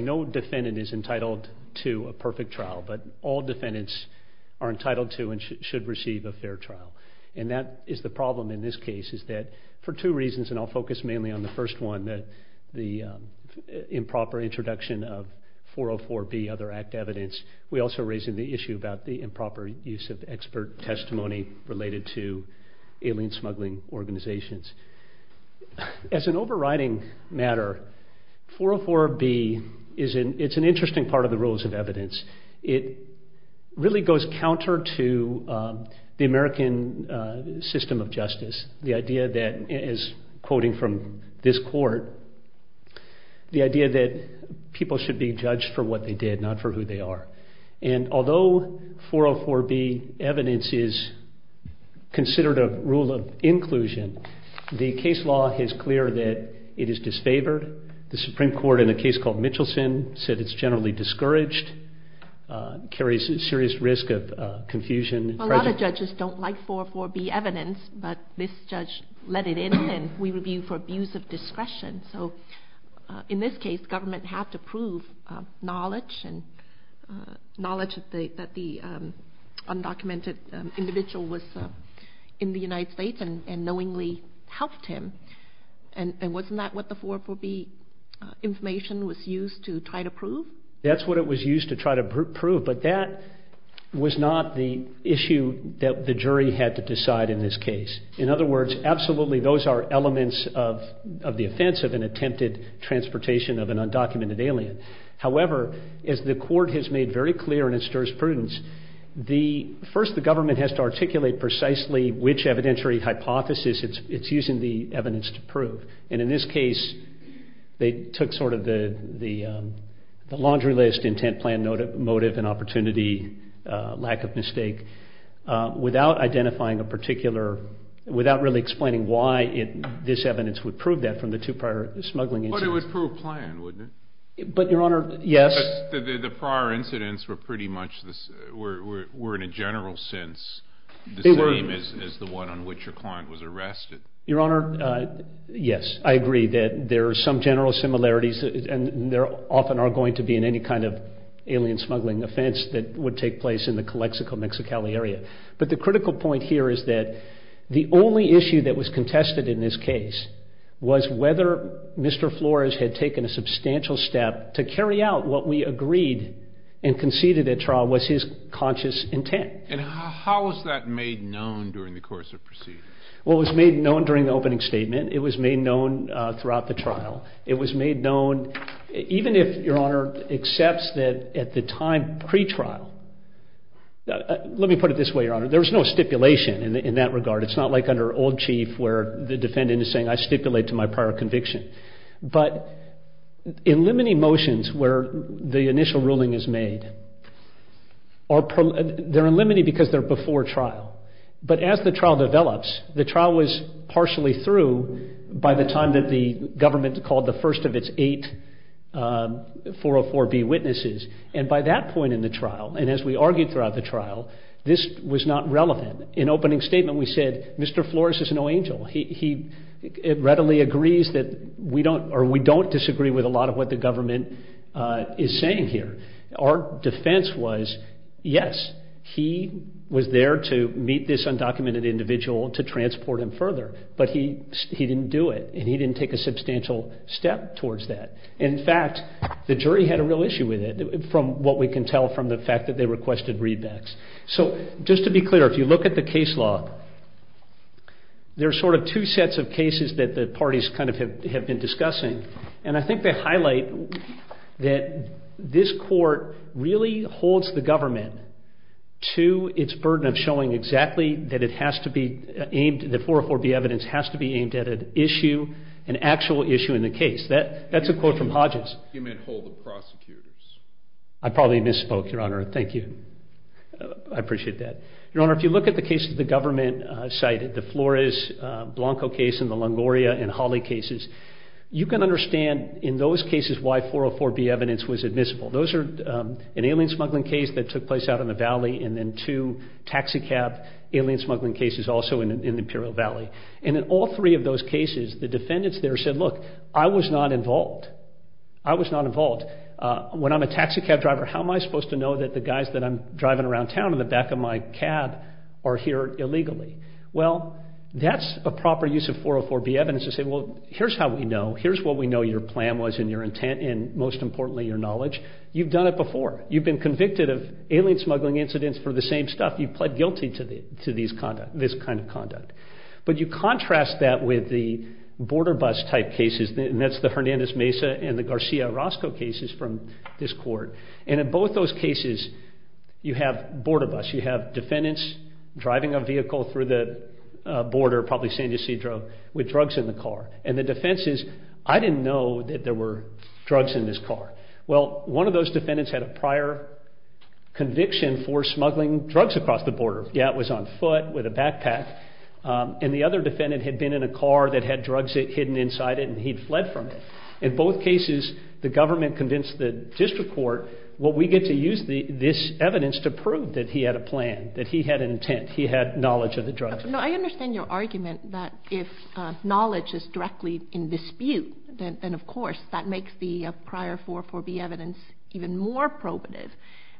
No defendant is entitled to a perfect trial, but all defendants are entitled to and should receive a fair trial. And that is the problem in this case, is that for two reasons, and I'll focus mainly on the first one, the improper introduction of 404B other act evidence. We also raise the issue about the improper use of expert testimony related to alien smuggling organizations. As an overriding matter, 404B is an interesting part of the rules of evidence. It really goes counter to the American system of justice, the idea that, as quoting from this court, the idea that people should be judged for what they did, not for who they are. And although 404B evidence is considered a rule of inclusion, the case law is clear that it is disfavored. The Supreme Court, in a case called Mitchelson, said it's generally discouraged, carries a serious risk of confusion. A lot of judges don't like 404B evidence, but this judge let it in, and we review for abuse of discretion. So in this case, government had to prove that an undocumented individual was in the United States and knowingly helped him. And wasn't that what the 404B information was used to try to prove? That's what it was used to try to prove, but that was not the issue that the jury had to decide in this case. In other words, absolutely, those are elements of the transportation of an undocumented alien. However, as the court has made very clear in its jurisprudence, first the government has to articulate precisely which evidentiary hypothesis it's using the evidence to prove. And in this case, they took sort of the laundry list, intent, plan, motive, and opportunity, lack of mistake, without identifying a particular, without really explaining why this evidence would prove that from the two prior smuggling incidents. But it would prove plan, wouldn't it? But, Your Honor, yes. The prior incidents were pretty much, were in a general sense the same as the one on which your client was arrested. Your Honor, yes. I agree that there are some general similarities, and there often are going to be in any kind of alien smuggling offense that would take place in the case. But the critical point here is that the only issue that was contested in this case was whether Mr. Flores had taken a substantial step to carry out what we agreed and conceded at trial was his conscious intent. And how was that made known during the course of proceedings? Well, it was made known during the opening statement. It was made known throughout the trial. It was made known, even if Your Honor accepts that at the time pre-trial. Let me put it this way, Your Honor. There was no stipulation in that regard. It's not like under old chief where the defendant is saying, I stipulate to my prior conviction. But in limine motions where the initial ruling is made, they're in limine because they're before trial. But as the trial develops, the trial was partially through by the time that the government called the first of its eight 404B witnesses. And by that point in the trial, and as we argued throughout the trial, this was not relevant. In opening statement, we said Mr. Flores is no angel. He readily agrees that we don't or we don't disagree with a lot of what the government is saying here. Our defense was, yes, he was there to meet this undocumented individual to transport him further. But he didn't do it. And he didn't take a substantial step towards that. In fact, the jury had a real issue with it from what we can tell from the fact that they requested readbacks. So just to be clear, if you look at the case law, there are sort of two sets of cases that the parties kind of have been discussing. And I think they highlight that this court really holds the government to its burden of showing exactly that it has to be aimed, the 404B evidence has to be aimed at an issue, an actual issue in the case. That's a quote from Hodges. You meant hold the prosecutors. I probably misspoke, Your Honor. Thank you. I appreciate that. Your Honor, if you look at the cases the government cited, the Flores-Blanco case and the Longoria and Hawley cases, you can understand in those cases why 404B evidence was admissible. Those are an alien smuggling case that took place out in the valley and then two taxicab alien smuggling cases also in the Imperial Valley. And in all three of those cases, the defendants there said, look, I was not involved. I was not involved. When I'm a taxicab driver, how am I supposed to know that the guys that I'm driving around town in the back of my cab are here illegally? Well, that's a proper use of 404B evidence to say, well, here's how we know. Here's what we know your plan was and your intent and, most importantly, your knowledge. You've done it before. You've been convicted of alien smuggling incidents for the same stuff. You pled guilty to this kind of conduct. But you contrast that with the border bus type cases, and that's the Hernandez-Mesa and the Garcia-Orozco cases from this court. And in both those cases, you have border bus. You have defendants driving a vehicle through the border, probably San Ysidro, with drugs in the car. And the defense is, I didn't know that there were drugs in this car. Well, one of those defendants had a prior conviction for smuggling drugs across the border. Yeah, it was on foot with a backpack. And the other defendant had been in a car that had drugs hidden inside it, and he'd fled from it. In both cases, the government convinced the district court, well, we get to use this evidence to prove that he had a plan, that he had an intent, he had knowledge of the drugs. Now, I understand your argument that if knowledge is directly in dispute, then, of course, that makes the prior 404B evidence even more probative,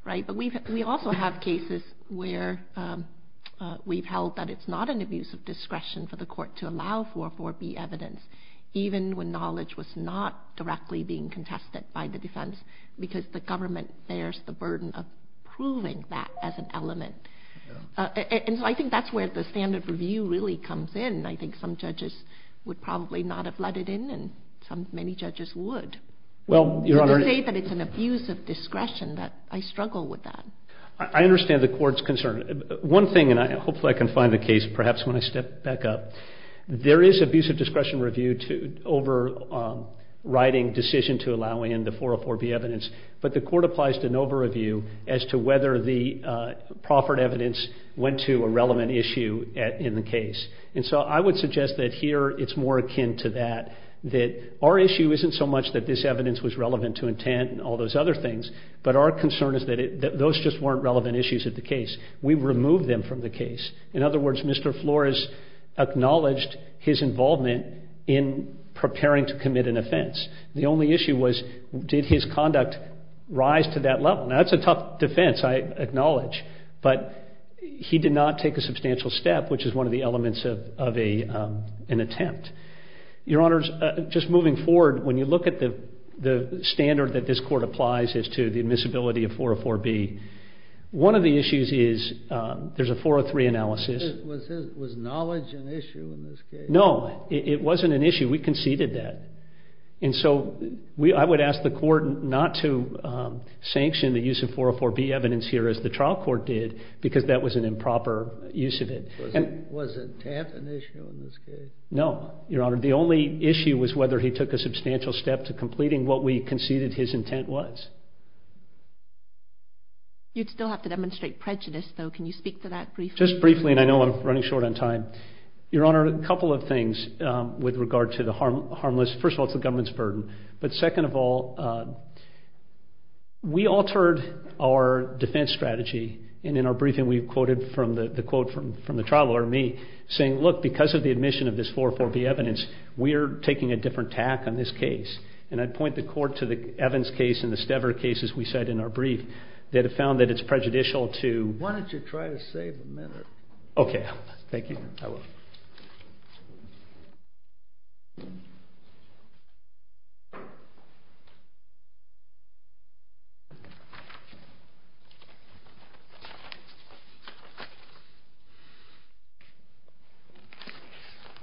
right? But we also have cases where we've held that it's not an abuse of discretion for the court to allow 404B evidence, even when knowledge was not directly being contested by the defense, because the government bears the burden of proving that as an element. And so I think that's where the standard review really comes in. I think some judges would probably not have let it in, and many judges would. To say that it's an abuse of discretion, I struggle with that. I understand the court's concern. One thing, and hopefully I can find the case perhaps when I step back up, there is abuse of discretion review overriding decision to allow in the 404B evidence, but the court applies to an overreview as to whether the proffered evidence went to a relevant issue in the case. And so I would suggest that here it's more akin to that, that our issue isn't so much that this evidence was relevant to intent and all those other things, but our concern is that those just weren't relevant issues at the case. We removed them from the case. In other words, Mr. Flores acknowledged his involvement in preparing to commit an offense. The only issue was, did his conduct rise to that level? Now, that's a tough defense, I acknowledge, but he did not take a substantial step, which is one of the elements of an attempt. Your Honors, just moving forward, when you look at the standard that this court applies as to the admissibility of 404B, one of the issues is, there's a 403 analysis. Was knowledge an issue in this case? No, it wasn't an issue. We conceded that. And so I would ask the court not to sanction the use of 404B evidence here as the trial court did, because that was an improper use of it. Was intent an issue in this case? No, Your Honor. The only issue was whether he took a substantial step to completing what we conceded his intent was. You'd still have to demonstrate prejudice, though. Can you speak to that briefly? Just briefly, and I know I'm running short on time. Your Honor, a couple of things with regard to the harmless... First of all, it's the government's burden. But second of all, we altered our defense strategy. And in our briefing, we quoted the quote from the trial lawyer, me, saying, look, because of the admission of this 404B evidence, we're taking a different tack on this case. And I'd point the court to the Evans case and the Stever case, as we said in our brief, that have found that it's prejudicial to... Why don't you try to save a minute? Okay. Thank you.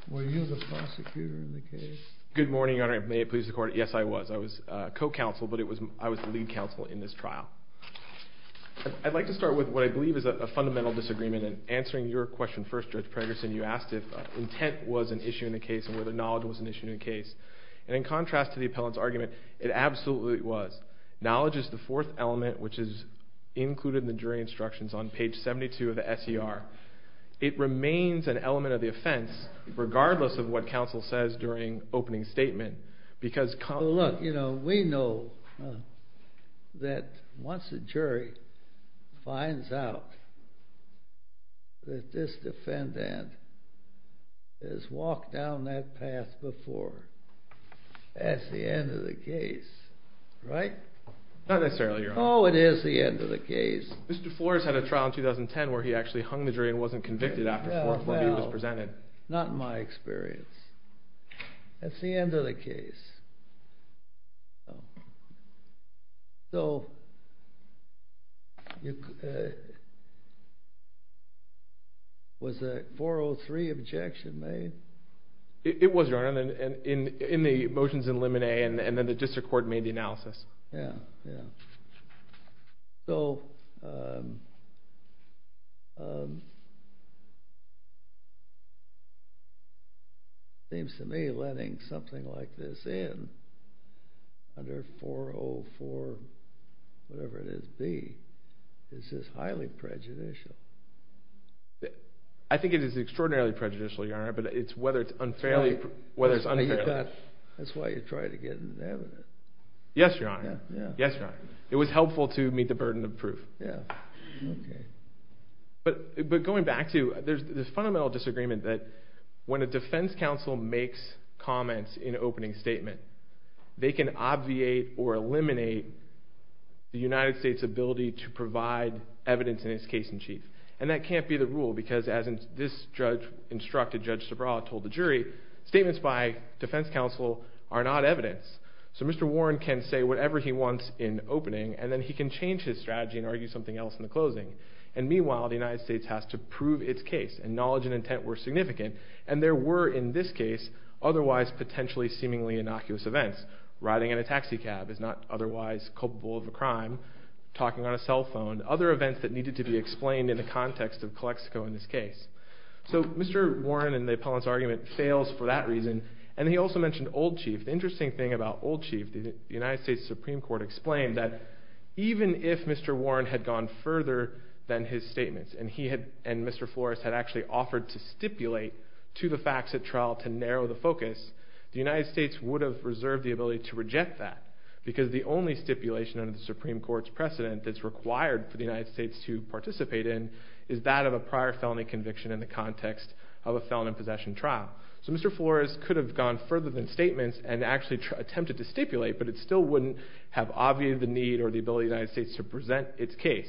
Were you the prosecutor in the case? Good morning, Your Honor. May it please the Court, yes, I was. I was co-counsel, but I was the lead counsel in this trial. I'd like to start with what I believe is a fundamental disagreement. And answering your question first, Judge Pregerson, you asked if intent was an issue in the case and whether knowledge was an issue in the case. And in contrast to the appellant's argument, it absolutely was. Knowledge is the fourth element, which is included in the jury instructions on page 72 of the S.E.R. It remains an element of the offense, regardless of what counsel says during opening statement, because... Well, look, you know, we know that once a jury finds out that this defendant has walked down that path before, that's the end of the case, right? Not necessarily, Your Honor. Oh, it is the end of the case. Mr. Flores had a trial in 2010 where he actually hung the jury and wasn't convicted after 440 was presented. No, no, not in my experience. That's the end of the case. So... Was that 403 objection made? It was, Your Honor, in the motions in Limine and then the district court made the analysis. Yeah, yeah. So... It seems to me letting something like this in under 404-whatever-it-is-B is just highly prejudicial. I think it is extraordinarily prejudicial, Your Honor, but it's whether it's unfairly... That's why you try to get an evidence. Yes, Your Honor, yes, Your Honor. It was helpful to meet the burden of proof. Yeah, okay. But going back to... There's this fundamental disagreement that when a defense counsel makes comments in an opening statement, they can obviate or eliminate the United States' ability to provide evidence in its case-in-chief. And that can't be the rule because, as this judge instructed, Judge Sobral told the jury, statements by defense counsel are not evidence. So Mr. Warren can say whatever he wants in opening and then he can change his strategy and argue something else in the closing. And meanwhile, the United States has to prove its case. And knowledge and intent were significant. And there were, in this case, otherwise potentially seemingly innocuous events. Riding in a taxi cab is not otherwise culpable of a crime. Talking on a cell phone. Other events that needed to be explained in the context of Calexico in this case. So Mr. Warren and the appellant's argument fails for that reason. And he also mentioned old chief. The interesting thing about old chief the United States Supreme Court explained that even if Mr. Warren had gone further than his statements and he and Mr. Flores had actually offered to stipulate to the facts at trial to narrow the focus the United States would have reserved the ability to reject that because the only stipulation under the Supreme Court's precedent that's required for the United States to participate in is that of a prior felony conviction in the context of a felon in possession trial. So Mr. Flores could have gone further than statements and actually attempted to stipulate but it still wouldn't have obviated the need or the ability of the United States to present its case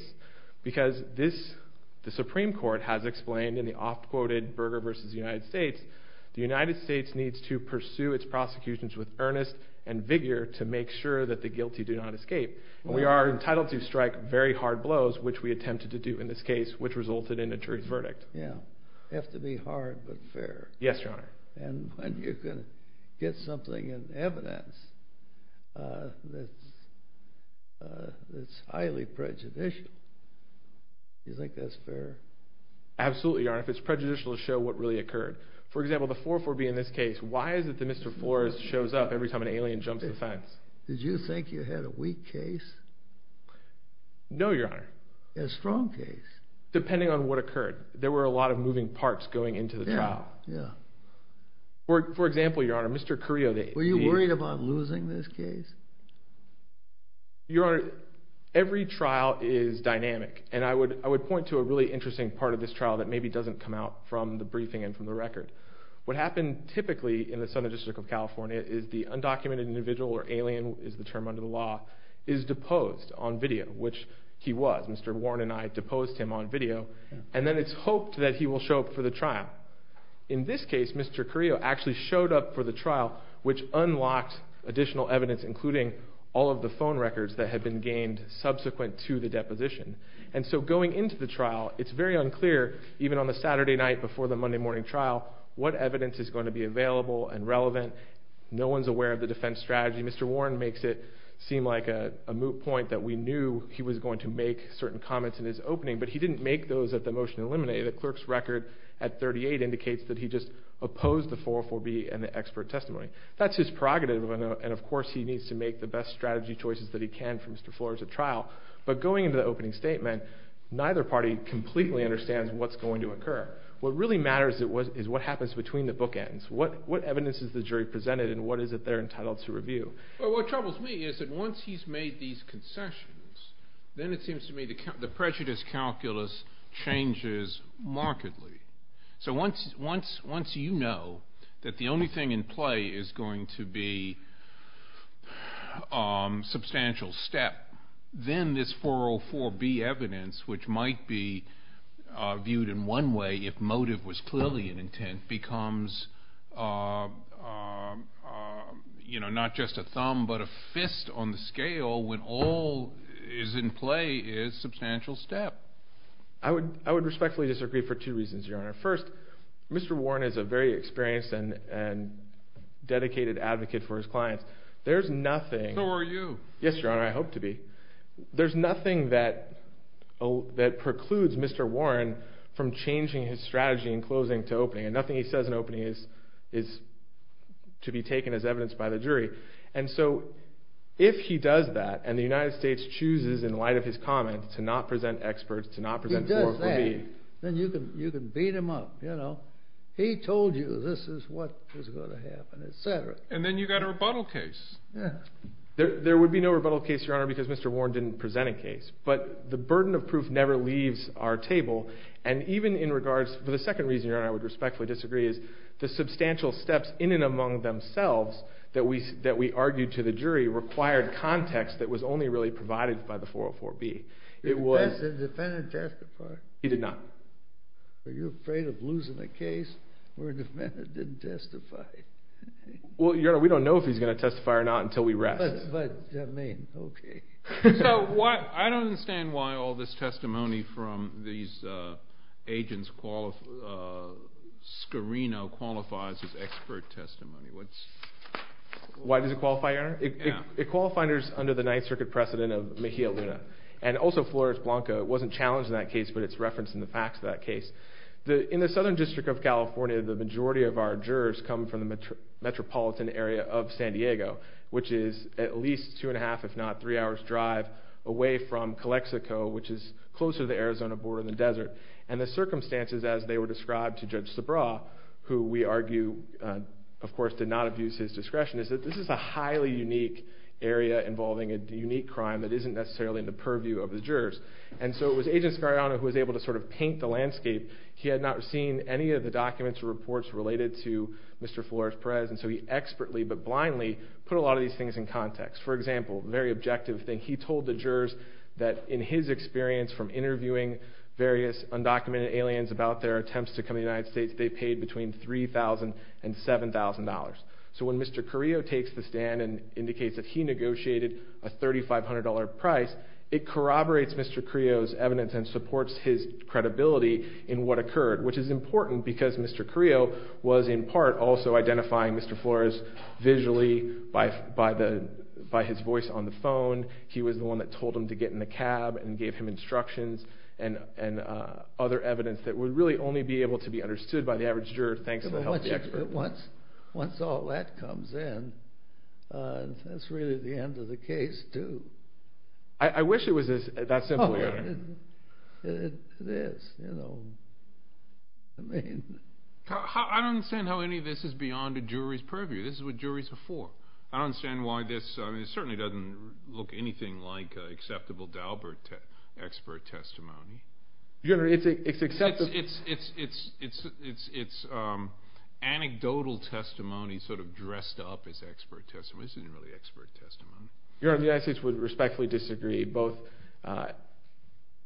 because the Supreme Court has explained in the oft-quoted Berger v. United States the United States needs to pursue its prosecutions with earnest and vigor to make sure that the guilty do not escape. We are entitled to strike very hard blows which we attempted to do in this case which resulted in a jury verdict. It has to be hard but fair. Yes, Your Honor. And when you can get something in evidence that's highly prejudicial do you think that's fair? Absolutely, Your Honor. If it's prejudicial to show what really occurred. For example, the 4-4-B in this case why is it that Mr. Flores shows up every time an alien jumps the fence? Did you think you had a weak case? No, Your Honor. A strong case? Depending on what occurred. There were a lot of moving parts going into the trial. For example, Your Honor Mr. Carrillo Were you worried about losing this case? Your Honor every trial is dynamic and I would point to a really interesting part of this trial that maybe doesn't come out from the briefing and from the record. What happened typically in the Southern District of California is the undocumented individual or alien is the term under the law is deposed on video which he was. Mr. Warren and I deposed him on video and then it's hoped that he will show up for the trial. In this case, Mr. Carrillo actually showed up for the trial which unlocked additional evidence including all of the phone records that had been gained subsequent to the deposition. And so going into the trial it's very unclear even on the Saturday night before the Monday morning trial what evidence is going to be available and relevant. No one's aware of the defense strategy. Mr. Warren makes it seem like a moot point that we knew he was going to make certain comments in his opening but he didn't make those at the motion to eliminate. The clerk's record at 38 indicates that he just opposed the 404B and the expert testimony. That's his prerogative and of course he needs to make the best strategy choices that he can for Mr. Flores at trial but going into the opening statement neither party completely understands what's going to occur. What really matters is what happens between the bookends. What evidence is the jury presented and what is it they're entitled to review? Well what troubles me is that once he's made these concessions then it seems to me the prejudice calculus changes markedly. So once you know that the only thing in play is going to be substantial step then this 404B evidence which might be viewed in one way if motive was clearly an intent becomes not just a thumb but a fist on the scale when all is in play is substantial step. I would respectfully disagree for two reasons, Your Honor. First, Mr. Warren is a very experienced and dedicated advocate for his clients. So are you. Yes, Your Honor, I hope to be. There's nothing that precludes Mr. Warren from changing his strategy in closing to opening and nothing he says in opening is to be taken as evidence by the jury. And so if he does that and the United States chooses in light of his comments to not present experts, to not present 404B then you can beat him up. He told you this is what was going to happen, etc. And then you've got a rebuttal case. There would be no rebuttal case, Your Honor, because Mr. Warren didn't present a case. But the burden of proof never leaves our table and even in regards to the second reason, Your Honor, I would respectfully disagree is the substantial steps in and among themselves that we argued to the jury required context that was only really provided by the 404B. Did the defendant testify? He did not. Are you afraid of losing the case where the defendant didn't testify? Well, Your Honor, we don't know if he's going to testify or not until we rest. But, I mean, okay. So I don't understand why all this testimony from these agents Scarino qualifies as expert testimony. Why does it qualify, Your Honor? It qualifies under the Ninth Circuit precedent of Mejia Luna and also Flores Blanca. It wasn't challenged in that case, but it's referenced in the facts of that case. In the Southern District of California the majority of our jurors come from the metropolitan area of San Diego, which is at least two and a half, if not three hours drive away from Calexico, which is closer to the Arizona border than the desert. And the circumstances as they were described to Judge Sabra, who we argue, of course, did not abuse his discretion, is that this is a highly unique area involving a unique crime that isn't necessarily in the purview of the jurors. And so it was Agent Scarino who was able to sort of paint the landscape. He had not seen any of the documents or reports related to Mr. Flores Perez, and so he expertly but blindly put a lot of these things in context. For example, a very objective thing, he told the jurors that in his experience from interviewing various undocumented aliens about their attempts to come to the United States, they paid between $3,000 and $7,000. So when Mr. Carrillo takes the stand and indicates that he negotiated a $3,500 price, it corroborates Mr. Carrillo's evidence and supports his credibility in what occurred, which is important because Mr. Carrillo was in part also identifying Mr. Flores visually by his voice on the phone. He was the one that told him to get in the cab and gave him instructions and other evidence that would really only be able to be understood by the average juror thanks to the help of the expert. Once all that comes in, that's really the end of the case, too. I wish it was that simple. It is. I mean... I don't understand how any of this is beyond a jury's purview. This is what juries are for. It certainly doesn't look anything like acceptable Dalbert expert testimony. It's acceptable. It's anecdotal testimony sort of dressed up as expert testimony. This isn't really expert testimony. Your Honor, the United States would respectfully disagree both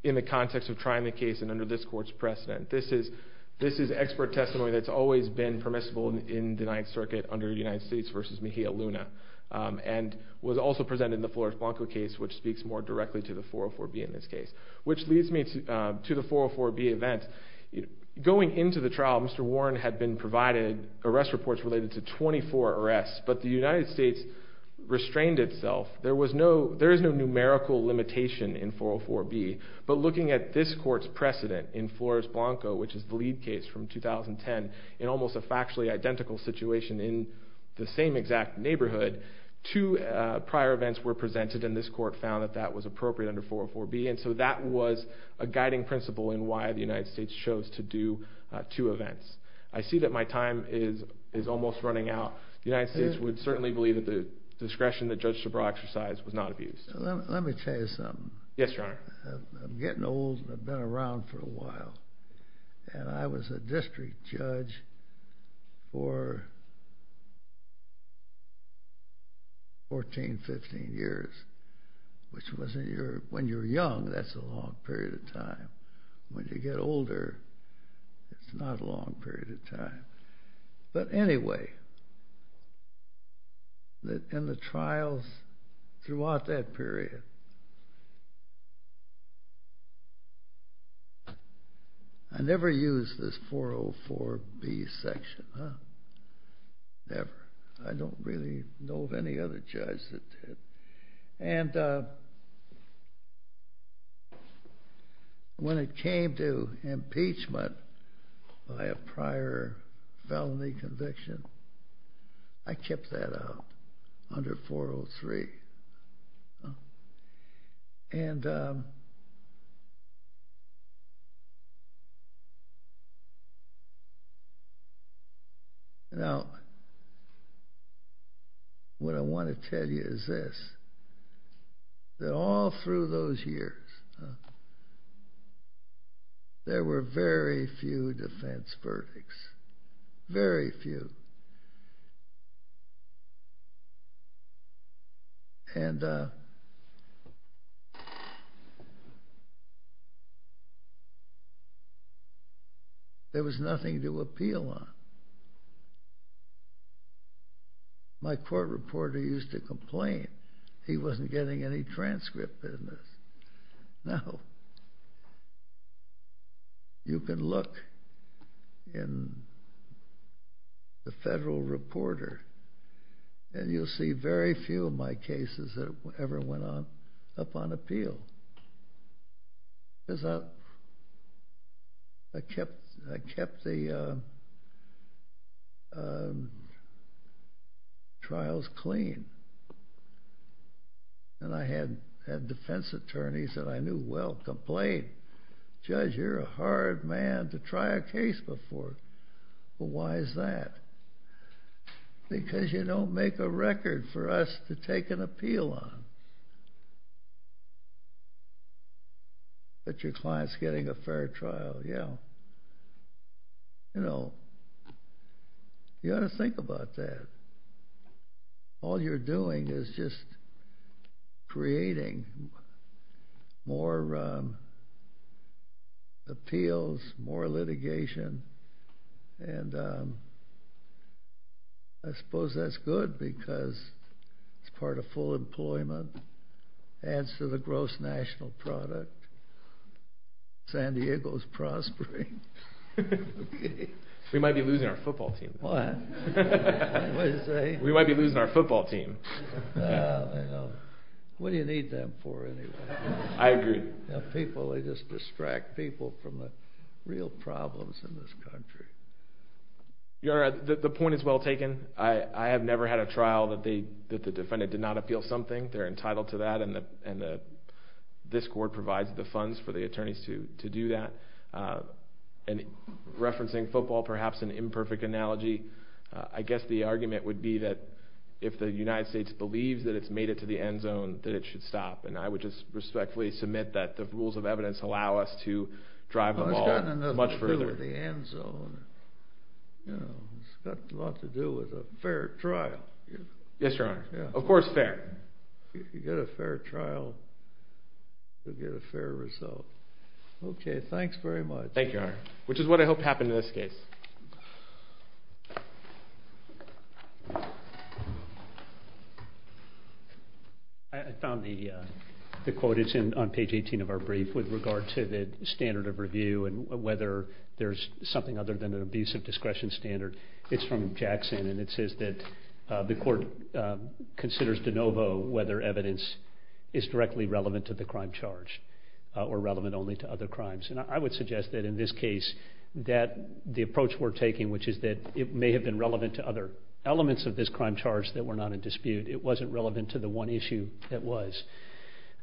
in the context of trying the case and under this Court's precedent. This is expert testimony that's always been permissible in the Ninth Circuit under United States v. Mejia Luna and was also presented in the Flores-Blanco case, which speaks more directly to the 404B in this case. Which leads me to the 404B event. Going into the trial, Mr. Warren had been provided arrest reports related to 24 arrests, but the United States restrained itself. There is no numerical limitation in 404B, but looking at this Court's precedent in Flores-Blanco which is the lead case from 2010 in almost a factually identical situation in the same exact neighborhood, two prior events were presented and this Court found that that was appropriate under 404B, and so that was a guiding principle in why the United States chose to do two events. I see that my time is almost running out. The United States would certainly believe that the discretion that Judge Shabra exercised was not abused. Let me tell you something. Yes, Your Honor. I'm getting old and I've been around for a while, and I was a district judge for 14-15 years, which wasn't your... When you're young, that's a long period of time. When you get older, it's not a long period of time. But anyway, in the trials throughout that period, I never used this 404B section. Never. I don't really know of any other judge that did. And when it came to impeachment by a prior felony conviction, I kept that out under 403. And now what I want to tell you is this. That all through those years, there were very few defense verdicts. Very few. And there was nothing to appeal on. My court reporter used to complain he wasn't getting any transcript in this. No. You can look in the federal reporter and you'll see very few of my cases that ever went up on appeal. Because I kept the trials clean. And I had defense attorneys that I knew well complain, Judge, you're a hard man to try a case before. Well, why is that? Because you don't make a record for us to take an appeal on. But your client's getting a fair trial. Yeah. You know, you ought to think about that. All you're doing is just creating more appeals, more litigation, and I suppose that's good because it's part of full employment. Adds to the gross national product. San Diego's prospering. We might be losing our football team. What? We might be losing our football team. What do you need them for anyway? I agree. People, they just distract people from real problems in this country. The point is well taken. I have never had a trial that the defendant did not appeal something. They're entitled to that and this court provides the funds for the attorneys to do that. Referencing football, perhaps an imperfect analogy, I guess the argument would be that if the United States believes that it's made it to the end zone, that it should stop. And I would just go much further. It's got a lot to do with the end zone. It's got a lot to do with a fair trial. Yes, Your Honor. Of course fair. If you get a fair trial, you'll get a fair result. Okay, thanks very much. Which is what I hope happened in this case. I found the quote, it's on page 18 of our brief, with regard to the standard of review and whether there's something other than an abusive discretion standard. It's from Jackson and it says that the court considers de novo whether evidence is directly relevant to the crime charge or relevant only to other crimes. And I would suggest that in this case that the approach we're taking which is that it may have been relevant to other elements of this crime charge that were not in dispute. It wasn't relevant to the one issue that was.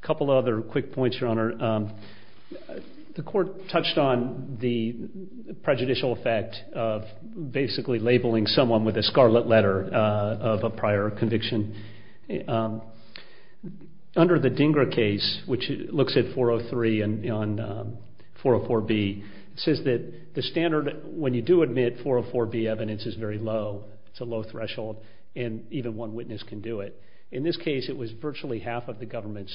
A couple other quick points, Your Honor. The court touched on the prejudicial effect of basically labeling someone with a scarlet letter of a prior conviction. Under the Dingra case which looks at 403 and 404B it says that the standard when you do admit 404B evidence is very low. It's a low threshold and even one witness can do it. In this case it was virtually half of the government's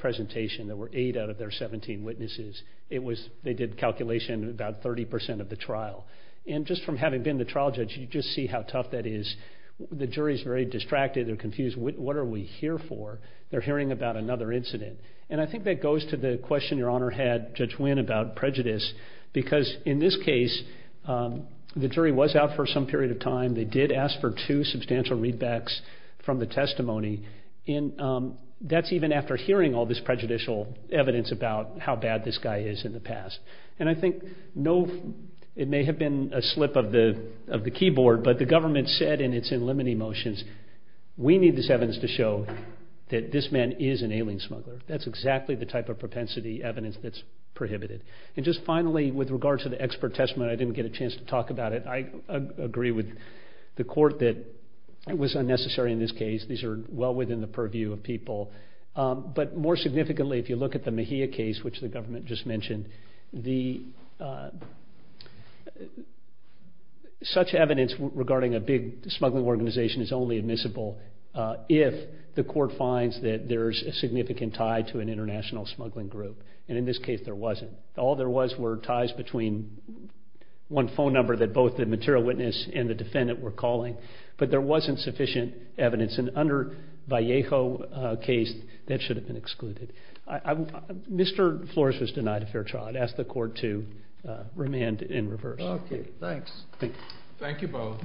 presentation. There were eight out of their 17 witnesses. They did calculation about 30% of the trial. And just from having been the trial judge you just see how tough that is. The jury is very distracted. They're confused. What are we here for? They're hearing about another incident. And I think that goes to the question Your Honor had, Judge Winn, about prejudice because in this case the jury was out for some period of time. They did ask for two substantial readbacks from the testimony and that's even after hearing all this prejudicial evidence about how bad this guy is in the past. And I think it may have been a slip of the keyboard but the government said and it's in limine motions we need this evidence to show that this man is an alien smuggler. That's exactly the type of propensity evidence that's prohibited. And just finally with regard to the expert testament, I didn't get a chance to talk about it. I agree with the court that it was unnecessary in this case. These are well within the purview of people. But more significantly if you look at the Mejia case which the government just mentioned the such evidence regarding a big smuggling organization is only admissible if the court finds that there's a significant tie to an international smuggling group. And in this case there wasn't. All there was were ties between one phone number that both the material witness and the defendant were calling but there wasn't sufficient evidence and under Vallejo case that should have been excluded. Mr. Flores was denied a fair trial. I'd ask the court to remand in reverse. Thanks. Thank you both.